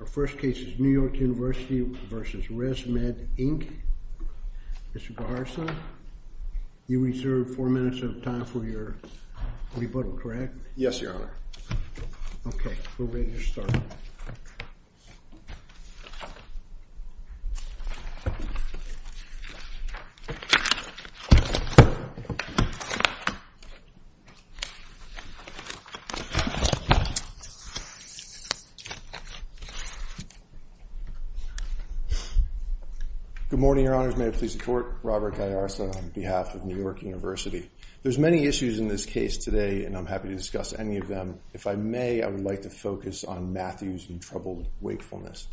Our first case is New York University v. ResMed, Inc. Mr. Beharson, you reserve four minutes of time for your rebuttal, correct? Yes, Your Honor. Okay. We're ready to start. Good morning, Your Honors, may I please support Robert Guyarza on behalf of New York University. There's many issues in this case today, and I'm happy to discuss any of them. If I may, I would like to focus on Matthews and troubled wakefulness.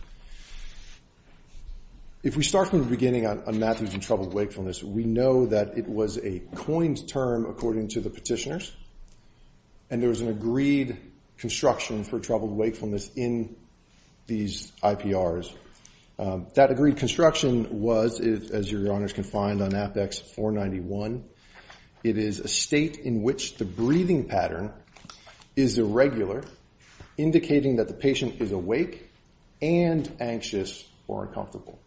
If we start from the beginning on Matthews and troubled wakefulness, we know that it was a coined term according to the petitioners, and there was an agreed construction for troubled wakefulness in these IPRs. That agreed construction was, as Your Honors can find on Apex 491, it is a state in which the breathing pattern is irregular, indicating that the patient is awake and anxious or uncomfortable.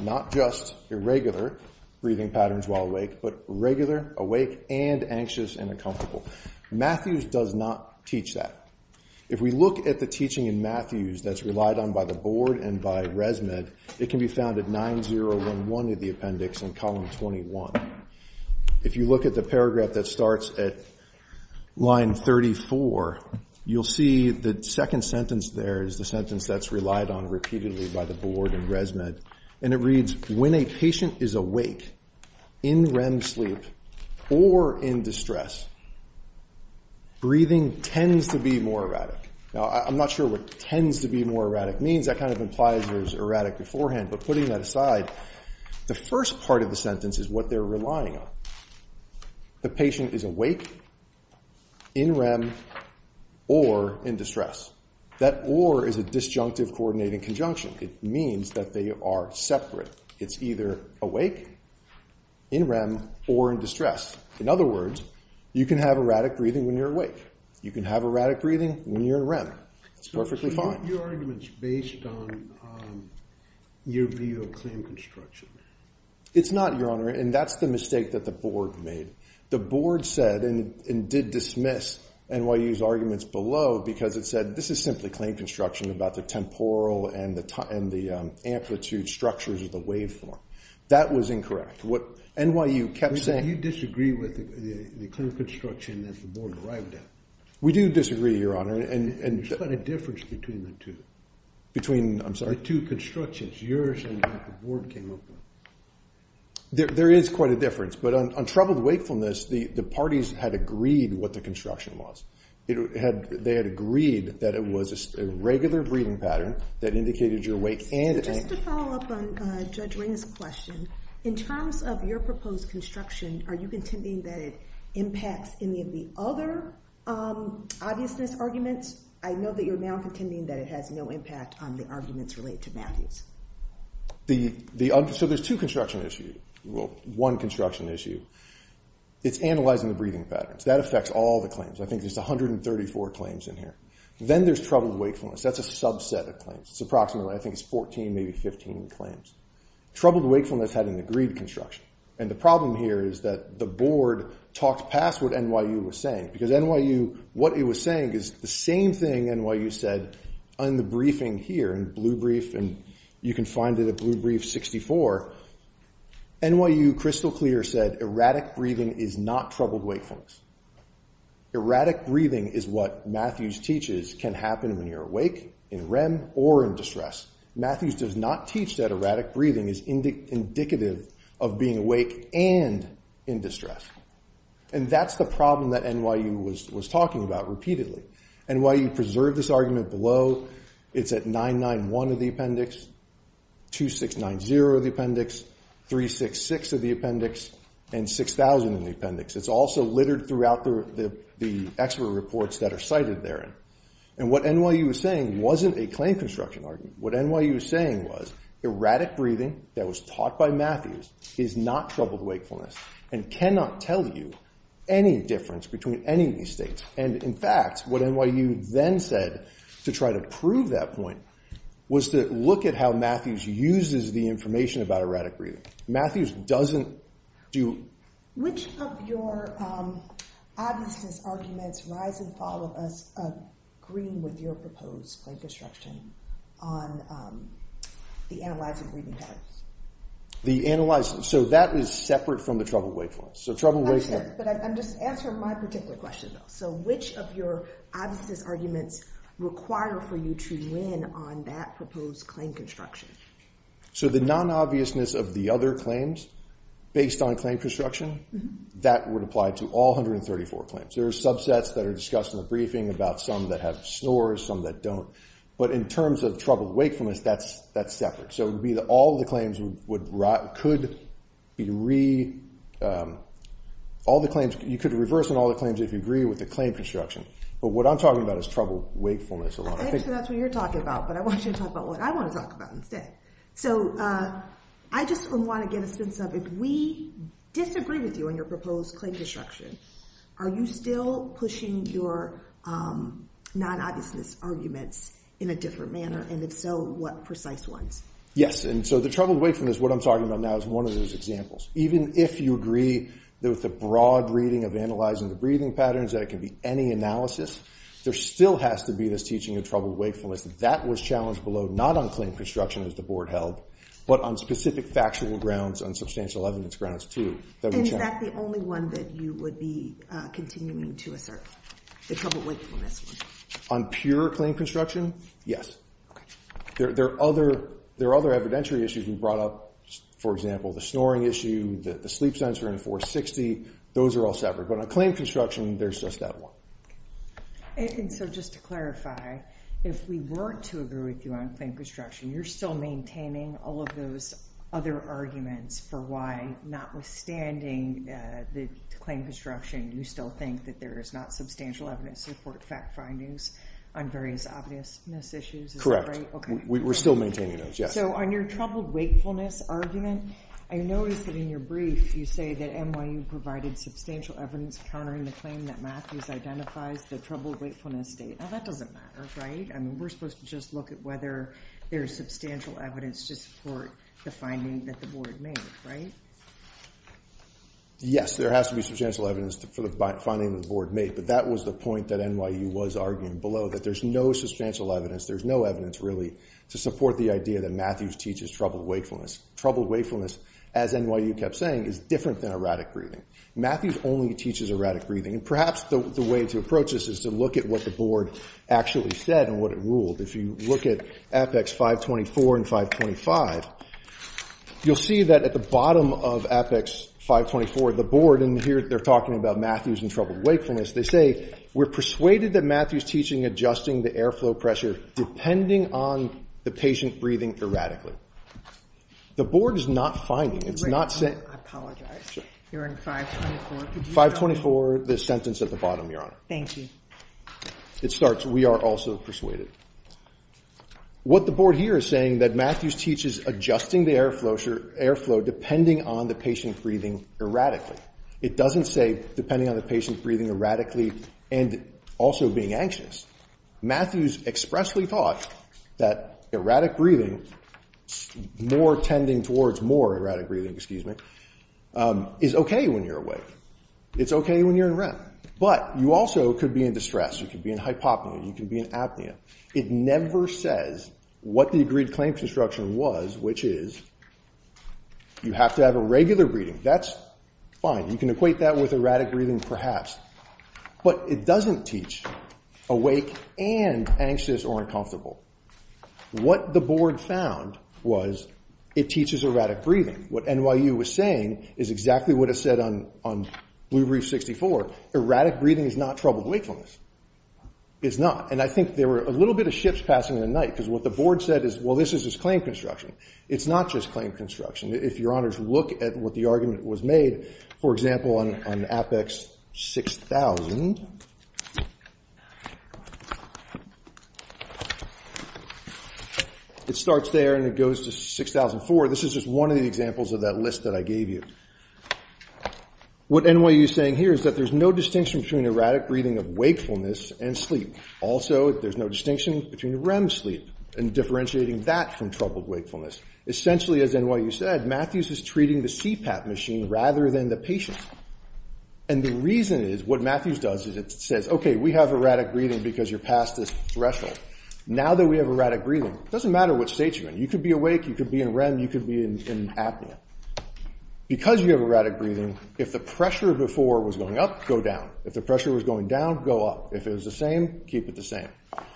Not just irregular breathing patterns while awake, but regular, awake, and anxious and uncomfortable. Matthews does not teach that. If we look at the teaching in Matthews that's relied on by the Board and by ResMed, it can be found at 9011 in the appendix in column 21. If you look at the paragraph that starts at line 34, you'll see the second sentence there is the sentence that's relied on repeatedly by the Board and ResMed, and it reads, when a patient is awake, in REM sleep, or in distress, breathing tends to be more erratic. Now, I'm not sure what tends to be more erratic means. That kind of implies it was erratic beforehand, but putting that aside, the first part of the sentence is what they're relying on. The patient is awake, in REM, or in distress. That or is a disjunctive coordinating conjunction. It means that they are separate. It's either awake, in REM, or in distress. In other words, you can have erratic breathing when you're awake. You can have erratic breathing when you're in REM. It's perfectly fine. Your argument's based on your view of claim construction. It's not, Your Honor, and that's the mistake that the Board made. The Board said, and did dismiss NYU's arguments below, because it said, this is simply claim construction about the temporal and the amplitude structures of the waveform. That was incorrect. What NYU kept saying— You disagree with the claim construction that the Board arrived at. We do disagree, Your Honor. There's quite a difference between the two. Between, I'm sorry? Between the two constructions, yours and what the Board came up with. There is quite a difference, but on troubled wakefulness, the parties had agreed what the construction was. They had agreed that it was a regular breathing pattern that indicated your wake and— Just to follow up on Judge Ring's question, in terms of your proposed construction, are you contending that it impacts any of the other obviousness arguments? I know that you're now contending that it has no impact on the arguments related to Matthews. So, there's two construction issues, well, one construction issue. It's analyzing the breathing patterns. That affects all the claims. I think there's 134 claims in here. Then there's troubled wakefulness. That's a subset of claims. It's approximately, I think it's 14, maybe 15 claims. Troubled wakefulness had an agreed construction, and the problem here is that the Board talked past what NYU was saying, because NYU, what it was saying is the same thing NYU said in the briefing here, in Blue Brief, and you can find it at Blue Brief 64. NYU, crystal clear, said erratic breathing is not troubled wakefulness. Erratic breathing is what Matthews teaches can happen when you're awake, in REM, or in Matthews does not teach that erratic breathing is indicative of being awake and in distress. And that's the problem that NYU was talking about repeatedly. NYU preserved this argument below. It's at 991 of the appendix, 2690 of the appendix, 366 of the appendix, and 6000 in the appendix. It's also littered throughout the expert reports that are cited therein. And what NYU was saying wasn't a claim construction argument. What NYU was saying was erratic breathing that was taught by Matthews is not troubled wakefulness and cannot tell you any difference between any of these states. And in fact, what NYU then said to try to prove that point was to look at how Matthews uses the information about erratic breathing. Matthews doesn't do... Which of your obviousness arguments rise and fall with us, agree with your proposed claim construction on the analyzing breathing patterns? The analyzing... So that is separate from the troubled wakefulness. So troubled wakefulness... But I'm just answering my particular question though. So which of your obviousness arguments require for you to win on that proposed claim construction? So the non-obviousness of the other claims based on claim construction, that would apply to all 134 claims. There are subsets that are discussed in the briefing about some that have snores, some that don't. But in terms of troubled wakefulness, that's separate. So it would be that all the claims could be re... All the claims... You could reverse on all the claims if you agree with the claim construction. But what I'm talking about is troubled wakefulness a lot. I think that's what you're talking about, but I want you to talk about what I want to talk about instead. So I just want to get a sense of if we disagree with you on your proposed claim construction, are you still pushing your non-obviousness arguments in a different manner? And if so, what precise ones? And so the troubled wakefulness, what I'm talking about now, is one of those examples. Even if you agree that with the broad reading of analyzing the breathing patterns that it can be any analysis, there still has to be this teaching of troubled wakefulness. That was challenged below, not on claim construction as the board held, but on specific factual grounds and substantial evidence grounds too. And is that the only one that you would be continuing to assert, the troubled wakefulness one? On pure claim construction? Yes. There are other evidentiary issues we brought up. For example, the snoring issue, the sleep sensor in a 460. Those are all separate. But on claim construction, there's just that one. And so just to clarify, if we weren't to agree with you on claim construction, you're still maintaining all of those other arguments for why, notwithstanding the claim construction, you still think that there is not substantial evidence to support fact findings on various obviousness issues? We're still maintaining those, yes. So on your troubled wakefulness argument, I noticed that in your brief, you say that NYU provided substantial evidence countering the claim that Matthews identifies the troubled wakefulness state. Now, that doesn't matter, right? I mean, we're supposed to just look at whether there's substantial evidence to support the finding that the board made, right? Yes, there has to be substantial evidence for the finding that the board made. But that was the point that NYU was arguing below, that there's no substantial evidence, there's no evidence really to support the idea that Matthews teaches troubled wakefulness. Troubled wakefulness, as NYU kept saying, is different than erratic breathing. Matthews only teaches erratic breathing. And perhaps the way to approach this is to look at what the board actually said and what it ruled. If you look at Apex 524 and 525, you'll see that at the bottom of Apex 524, the board in here, they're talking about Matthews and troubled wakefulness, they say, we're persuaded that Matthews teaching, adjusting the airflow pressure, depending on the patient breathing erratically. The board is not finding, it's not saying- Wait, I apologize. You're in 524. 524, the sentence at the bottom, Your Honor. Thank you. It starts, we are also persuaded. What the board here is saying that Matthews teaches adjusting the airflow depending on the patient breathing erratically. It doesn't say, depending on the patient breathing erratically and also being anxious. Matthews expressly taught that erratic breathing, more tending towards more erratic breathing, excuse me, is okay when you're awake. It's okay when you're in REM. But you also could be in distress, you could be in hypopnea, you could be in apnea. It never says what the agreed claim construction was, which is you have to have a regular breathing. That's fine. You can equate that with erratic breathing perhaps. But it doesn't teach awake and anxious or uncomfortable. What the board found was it teaches erratic breathing. What NYU was saying is exactly what it said on Blue Brief 64, erratic breathing is not troubled wakefulness. It's not. And I think there were a little bit of shifts passing in the night because what the board said is, well, this is just claim construction. It's not just claim construction. If your honors look at what the argument was made, for example, on Apex 6000, it starts there and it goes to 6004. This is just one of the examples of that list that I gave you. What NYU is saying here is that there's no distinction between erratic breathing of wakefulness and sleep. Also, there's no distinction between REM sleep and differentiating that from troubled wakefulness. Essentially, as NYU said, Matthews is treating the CPAP machine rather than the patient. And the reason is what Matthews does is it says, okay, we have erratic breathing because you're past this threshold. Now that we have erratic breathing, it doesn't matter what state you're in. You could be awake. You could be in REM. You could be in apnea. Because you have erratic breathing, if the pressure before was going up, go down. If the pressure was going down, go up. If it was the same, keep it the same.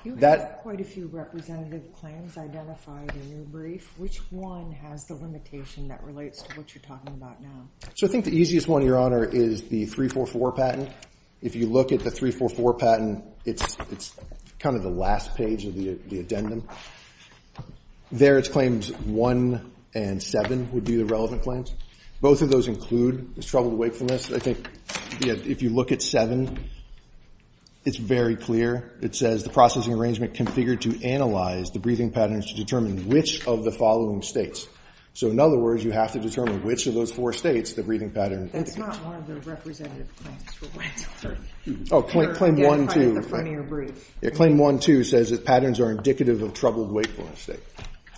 You have quite a few representative claims identified in your brief. Which one has the limitation that relates to what you're talking about now? So I think the easiest one, your honor, is the 344 patent. If you look at the 344 patent, it's kind of the last page of the addendum. There it's claims one and seven would be the relevant claims. Both of those include troubled wakefulness. I think if you look at seven, it's very clear. It says the processing arrangement configured to analyze the breathing patterns to determine which of the following states. So in other words, you have to determine which of those four states the breathing pattern indicates. That's not one of the representative claims for Wentzler. Claim one, too. It's kind of the front of your brief. Claim one, too, says that patterns are indicative of troubled wakefulness.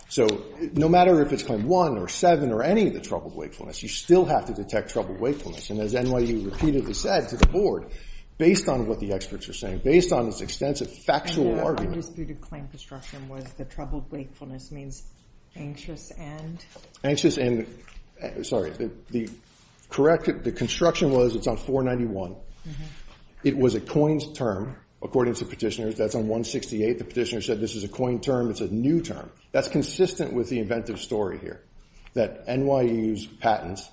So no matter if it's claim one or seven or any of the troubled wakefulness, you still have to detect troubled wakefulness. And as NYU repeatedly said to the board, based on what the experts are saying, based on its extensive factual argument. And the undisputed claim construction was the troubled wakefulness means anxious and? Anxious and, sorry, the construction was, it's on 491. It was a coined term, according to petitioners. That's on 168. The petitioner said this is a coined term. It's a new term. That's consistent with the inventive story here. That NYU's patents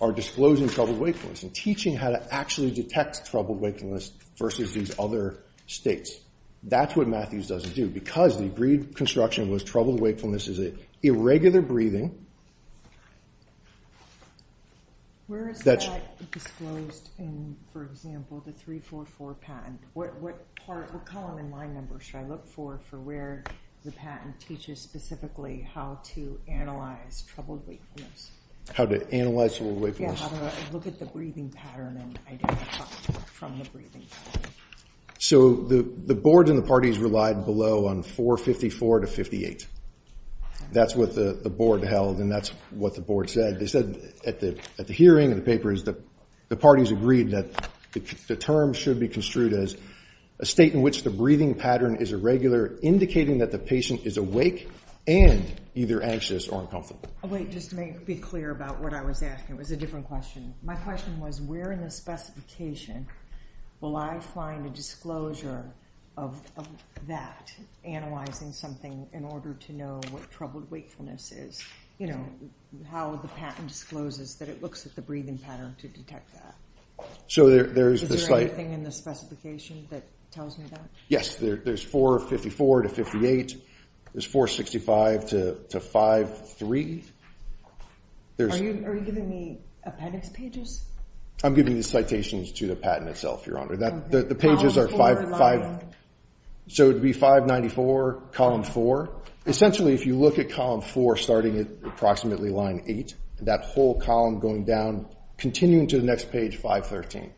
are disclosing troubled wakefulness and teaching how to actually detect troubled wakefulness versus these other states. That's what Matthews doesn't do. Because the brief construction was troubled wakefulness is an irregular breathing. Where is that disclosed in, for example, the 344 patent? What part, what column in line number should I look for for where the patent teaches specifically how to analyze troubled wakefulness? How to analyze troubled wakefulness? Yeah, how to look at the breathing pattern and identify from the breathing pattern. So the boards and the parties relied below on 454 to 58. That's what the board held, and that's what the board said. They said at the hearing and the papers, the parties agreed that the term should be construed as a state in which the breathing pattern is irregular, indicating that the patient is awake and either anxious or uncomfortable. Oh, wait. Just to be clear about what I was asking, it was a different question. My question was, where in the specification will I find a disclosure of that, analyzing something in order to know what troubled wakefulness is, how the patent discloses that it looks at the breathing pattern to detect that? Is there anything in the specification that tells me that? Yes. There's 454 to 58. There's 465 to 53. Are you giving me appendix pages? I'm giving you citations to the patent itself, Your Honor. The pages are five. So it would be 594, column four. Essentially, if you look at column four, starting at approximately line eight, that whole column going down, continuing to the next page, 513.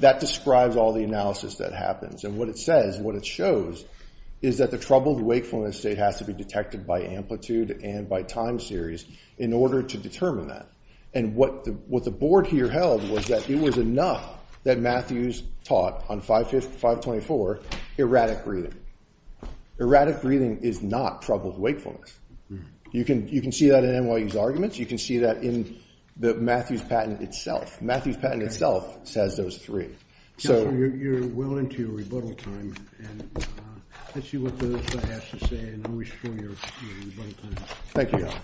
That describes all the analysis that happens. And what it says, what it shows, is that the troubled wakefulness state has to be detected by amplitude and by time series in order to determine that. And what the board here held was that it was enough that Matthews taught on 524, erratic breathing. Erratic breathing is not troubled wakefulness. You can see that in NYU's arguments. You can see that in the Matthews patent itself. Matthews patent itself says those three. Counselor, you're well into your rebuttal time. And let's see what the other side has to say, and then we'll show your rebuttal time. Thank you, Your Honor.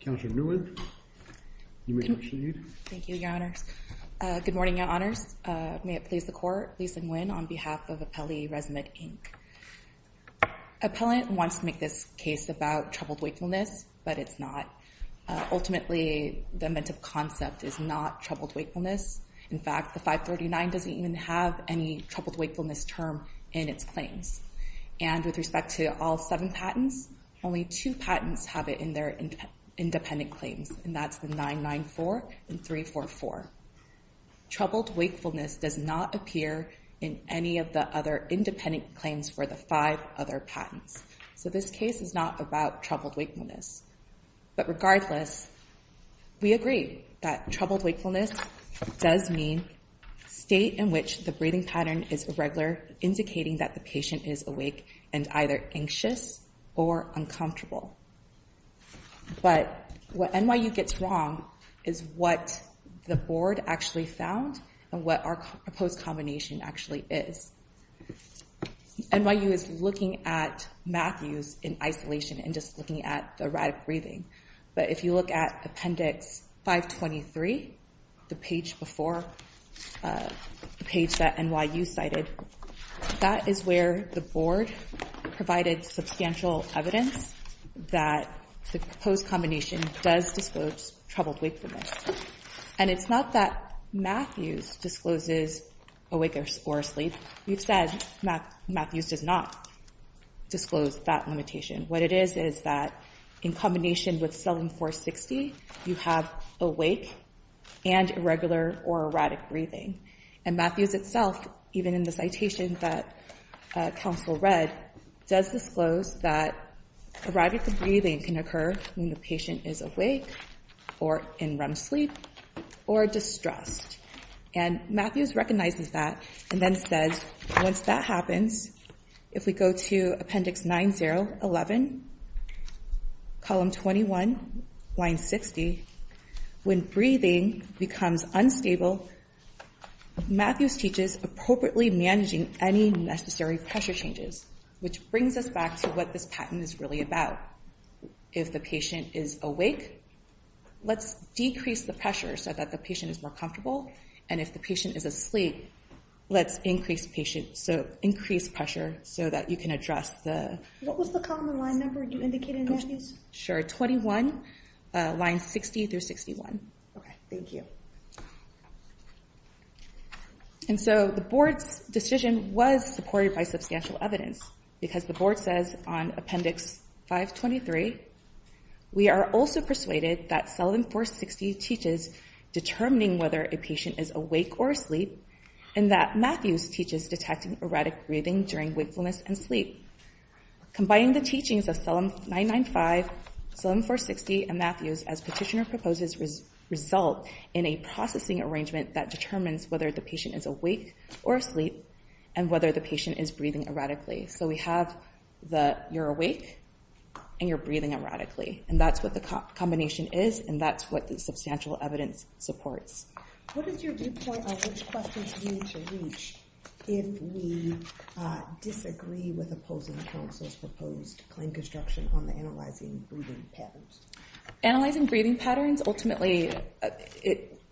Counselor Newen, you may proceed. Thank you, Your Honors. Good morning, Your Honors. May it please the Court, Lisa Nguyen on behalf of Appellee Resume, Inc. Appellant wants to make this case about troubled wakefulness, but it's not. Ultimately, the inventive concept is not troubled wakefulness. In fact, the 539 doesn't even have any troubled wakefulness term in its claims. And with respect to all seven patents, only two patents have it in their independent claims. And that's the 994 and 344. Troubled wakefulness does not appear in any of the other independent claims for the five other patents. So this case is not about troubled wakefulness. But regardless, we agree that troubled wakefulness does mean state in which the breathing pattern is irregular, indicating that the patient is awake and either anxious or uncomfortable. But what NYU gets wrong is what the Board actually found and what our proposed combination actually is. NYU is looking at Matthews in isolation and just looking at the erratic breathing. But if you look at Appendix 523, the page before, the page that NYU cited, that is where the Board provided substantial evidence that the proposed combination does disclose troubled wakefulness. And it's not that Matthews discloses awake or asleep. We've said Matthews does not disclose that limitation. What it is is that in combination with 7460, you have awake and irregular or erratic breathing. And Matthews itself, even in the citation that counsel read, does disclose that erratic breathing can occur when the patient is awake or in REM sleep or distressed. And Matthews recognizes that and then says, once that happens, if we go to Appendix 9011, column 21, line 60, when breathing becomes unstable, Matthews teaches appropriately managing any necessary pressure changes, which brings us back to what this pattern is really about. If the patient is awake, let's decrease the pressure so that the patient is more comfortable. And if the patient is asleep, let's increase pressure so that you can address the... What was the column and line number you indicated, Matthews? Sure, 21, line 60 through 61. Okay, thank you. And so the Board's decision was supported by substantial evidence because the Board says on Appendix 523, we are also persuaded that 7460 teaches determining whether a patient is awake or asleep and that Matthews teaches detecting erratic breathing during wakefulness and sleep. Combining the teachings of 995, 7460, and Matthews, as petitioner proposes, result in a processing arrangement that determines whether the patient is awake or asleep and whether the patient is breathing erratically. So we have the, you're awake and you're breathing erratically. And that's what the combination is and that's what the substantial evidence supports. What is your viewpoint on which questions we need to reach if we disagree with opposing counsel's proposed claim construction on the analyzing breathing patterns? Analyzing breathing patterns, ultimately,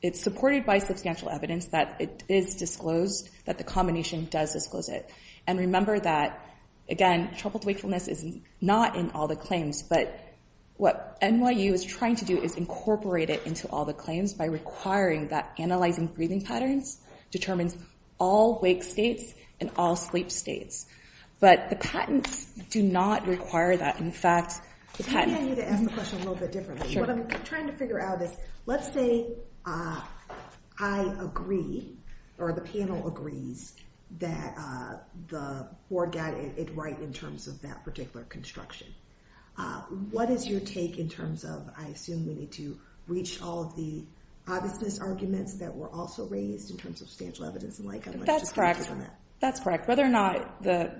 it's supported by substantial evidence that it is disclosed, that the combination does disclose it. And remember that, again, troubled wakefulness is not in all the claims, but what NYU is trying to do is incorporate it into all the claims by requiring that analyzing breathing patterns determines all wake states and all sleep states. But the patents do not require that. In fact, the patent... Maybe I need to ask the question a little bit differently. What I'm trying to figure out is, let's say I agree or the panel agrees that the Board got it right in terms of that particular construction. What is your take in terms of, I assume we need to reach all of the obviousness arguments that were also raised in terms of substantial evidence? And I'd like to take on that. That's correct. Whether or not the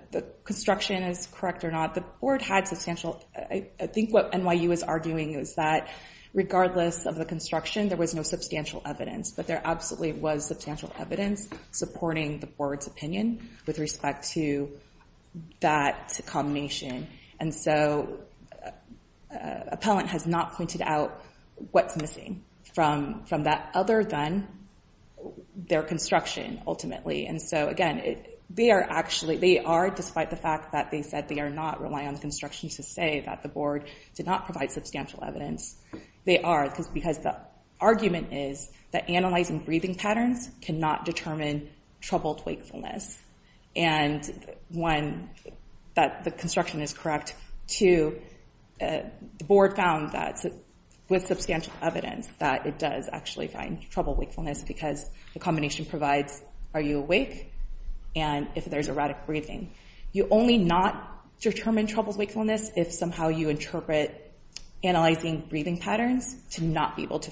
construction is correct or not, the Board had substantial... I think what NYU is arguing is that regardless of the construction, there was no substantial evidence, but there absolutely was substantial evidence supporting the Board's opinion with respect to that combination. And so appellant has not pointed out what's missing from that other than their construction ultimately. And so again, they are actually... They are, despite the fact that they said they are not relying on the construction to say that the Board did not provide substantial evidence, they are because the argument is that analyzing breathing patterns cannot determine troubled wakefulness. And one, that the construction is correct. Two, the Board found that with substantial evidence that it does actually find troubled wakefulness because the combination provides, are you awake? And if there's erratic breathing. You only not determine troubled wakefulness if somehow you interpret analyzing breathing patterns to not be able to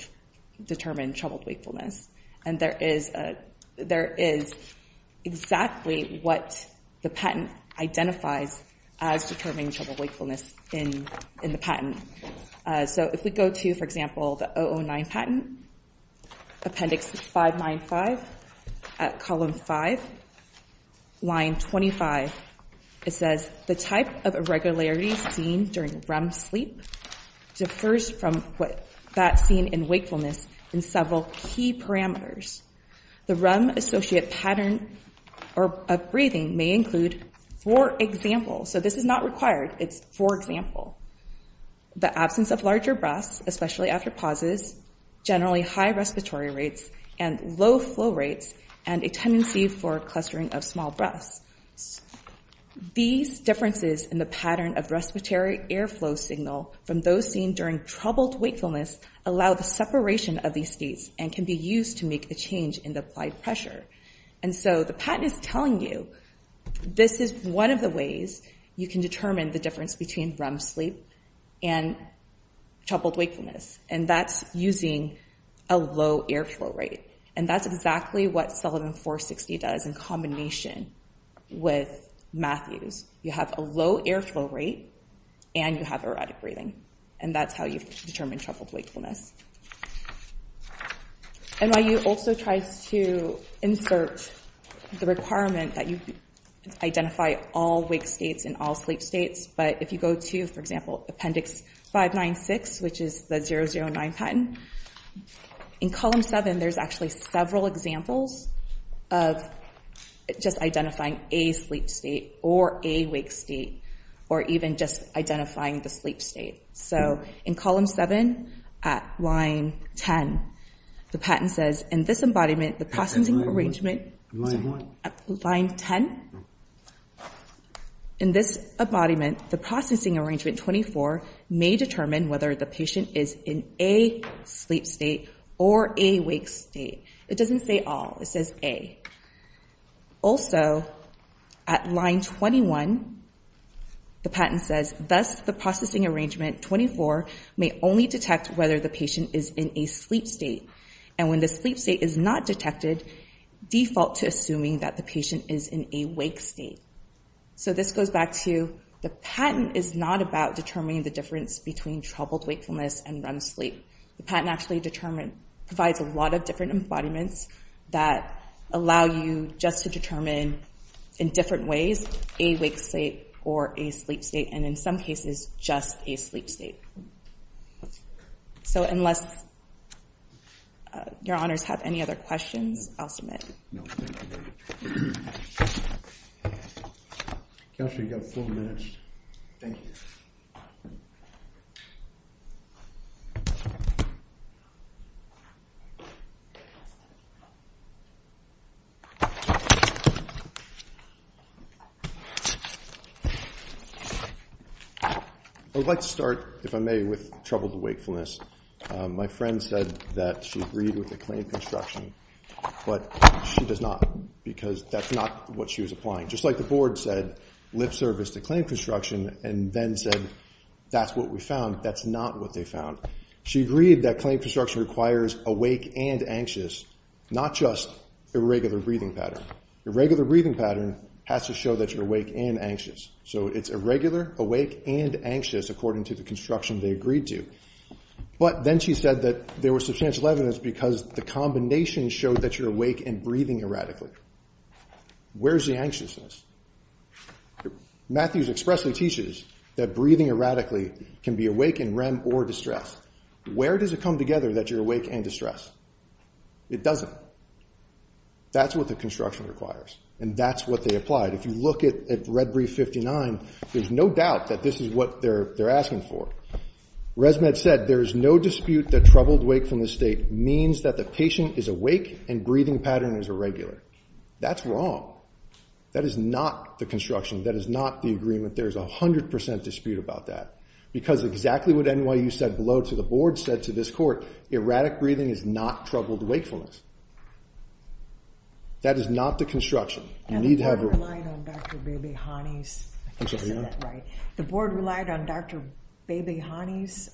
determine troubled wakefulness. And there is exactly what the patent identifies as determining troubled wakefulness in the So if we go to, for example, the 009 patent, appendix 595 at column 5, line 25, it says, the type of irregularities seen during REM sleep differs from what that's seen in wakefulness in several key parameters. The REM-associated pattern of breathing may include, for example, so this is not required, it's for example, the absence of larger breaths, especially after pauses, generally high respiratory rates, and low flow rates, and a tendency for clustering of small breaths. These differences in the pattern of respiratory airflow signal from those seen during troubled wakefulness allow the separation of these states and can be used to make the change in the applied pressure. And so the patent is telling you, this is one of the ways you can determine the difference between REM sleep and troubled wakefulness. And that's using a low airflow rate. And that's exactly what Sullivan 460 does in combination with Matthews. You have a low airflow rate and you have erratic breathing. And that's how you determine troubled wakefulness. NYU also tries to insert the requirement that you identify all wake states and all sleep states. But if you go to, for example, appendix 596, which is the 009 patent, in column 7, there's actually several examples of just identifying a sleep state or a wake state, or even just identifying the sleep state. So in column 7, at line 10, the patent says, in this embodiment, the processing arrangement at line 10, in this embodiment, the processing arrangement 24, may determine whether the patient is in a sleep state or a wake state. It doesn't say all. It says a. Also, at line 21, the patent says, thus, the processing arrangement 24 may only detect whether the patient is in a sleep state. And when the sleep state is not detected, default to assuming that the patient is in a wake state. So this goes back to the patent is not about determining the difference between troubled wakefulness and REM sleep. The patent actually provides a lot of different embodiments that allow you just to determine, in different ways, a wake state or a sleep state. And in some cases, just a sleep state. So unless your honors have any other questions, I'll submit. No, thank you. Counselor, you've got four minutes. Thank you. I would like to start, if I may, with troubled wakefulness. My friend said that she agreed with the claim construction, but she does not, because that's not what she was applying. Just like the board said, lip service to claim construction, and then said, that's what we found, that's not what they found. She agreed that claim construction requires awake and anxious, not just irregular breathing pattern. Irregular breathing pattern has to show that you're awake and anxious. So it's irregular, awake, and anxious, according to the construction they agreed to. But then she said that there was substantial evidence because the combination showed that you're awake and breathing erratically. Where's the anxiousness? Matthews expressly teaches that breathing erratically can be awake and REM or distress. Where does it come together that you're awake and distress? It doesn't. That's what the construction requires. And that's what they applied. If you look at Red Brief 59, there's no doubt that this is what they're asking for. ResMed said, there is no dispute that troubled wakefulness state means that the patient is awake and breathing pattern is irregular. That's wrong. That is not the construction. That is not the agreement. There's 100% dispute about that. Because exactly what NYU said below to the board, said to this court, erratic breathing is not troubled wakefulness. That is not the construction. You need to have a- And the board relied on Dr. Bebehani's, I can't say that right. The board relied on Dr. Bebehani's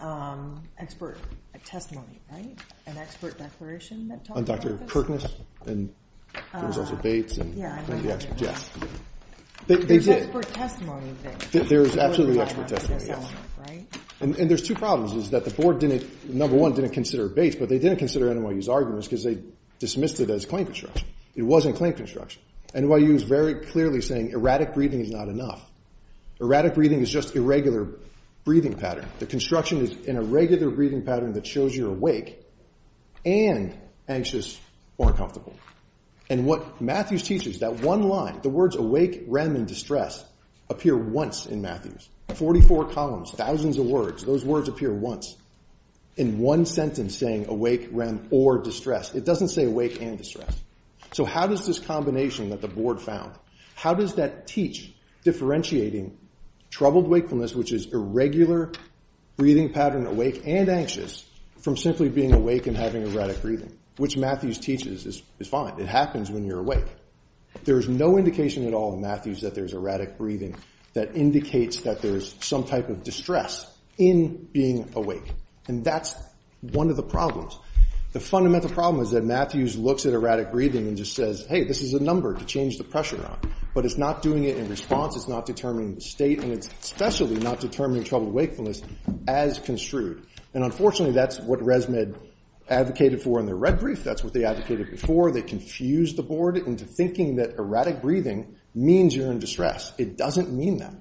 expert testimony, right? An expert declaration that talked about this? On Dr. Kirkness? And there was also Bates and- Yeah, I know who did that. There's expert testimony of this. There's absolutely expert testimony, yes. And there's two problems is that the board didn't, number one, didn't consider Bates, but they didn't consider NYU's arguments because they dismissed it as claim construction. It wasn't claim construction. NYU is very clearly saying erratic breathing is not enough. Erratic breathing is just irregular breathing pattern. The construction is an irregular breathing pattern that shows you're awake and anxious or uncomfortable. And what Matthews teaches, that one line, the words awake, REM, and distress appear once in Matthews. 44 columns, thousands of words, those words appear once in one sentence saying awake, REM, or distress. It doesn't say awake and distress. So how does this combination that the board found, how does that teach differentiating troubled wakefulness, which is irregular breathing pattern, awake and anxious, from simply being awake and having erratic breathing, which Matthews teaches is fine. It happens when you're awake. There is no indication at all in Matthews that there's erratic breathing that indicates that there's some type of distress in being awake. And that's one of the problems. The fundamental problem is that Matthews looks at erratic breathing and just says, hey, this is a number to change the pressure on. But it's not doing it in response. It's not determining the state. And it's especially not determining troubled wakefulness as construed. And unfortunately, that's what ResMed advocated for in their red brief. That's what they advocated before. They confused the board into thinking that erratic breathing means you're in distress. It doesn't mean that.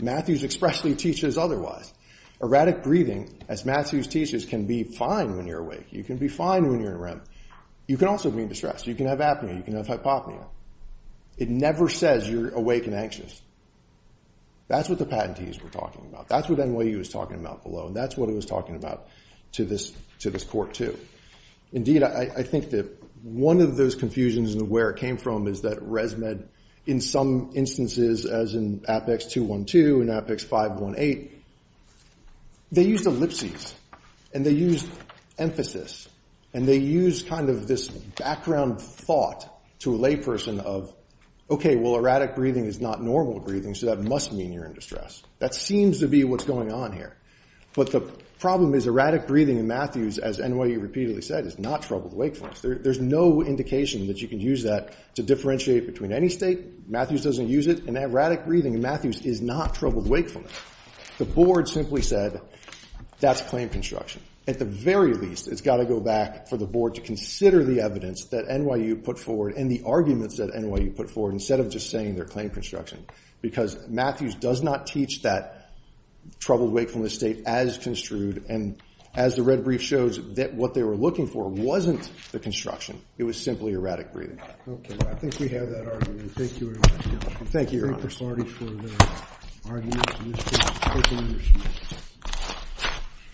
Matthews expressly teaches otherwise. Erratic breathing, as Matthews teaches, can be fine when you're awake. You can be fine when you're in REM. You can also be in distress. You can have apnea. You can have hypopnea. It never says you're awake and anxious. That's what the patentees were talking about. That's what NYU was talking about below. That's what it was talking about to this court, too. Indeed, I think that one of those confusions and where it came from is that ResMed, in some instances, as in Apex 212 and Apex 518, they used ellipses. And they used emphasis. And they used kind of this background thought to a layperson of, OK, well, erratic breathing is not normal breathing. So that must mean you're in distress. That seems to be what's going on here. But the problem is erratic breathing in Matthews, as NYU repeatedly said, is not troubled wakefulness. There's no indication that you can use that to differentiate between any state. Matthews doesn't use it. And erratic breathing in Matthews is not troubled wakefulness. The board simply said, that's claim construction. At the very least, it's got to go back for the board to consider the evidence that NYU put forward and the arguments that NYU put forward instead of just saying they're claim construction. Because Matthews does not teach that troubled wakefulness state as construed. And as the red brief shows, what they were looking for wasn't the construction. It was simply erratic breathing. OK. I think we have that argument. Thank you very much. Thank you, Your Honor. Thank you for starting for the argument.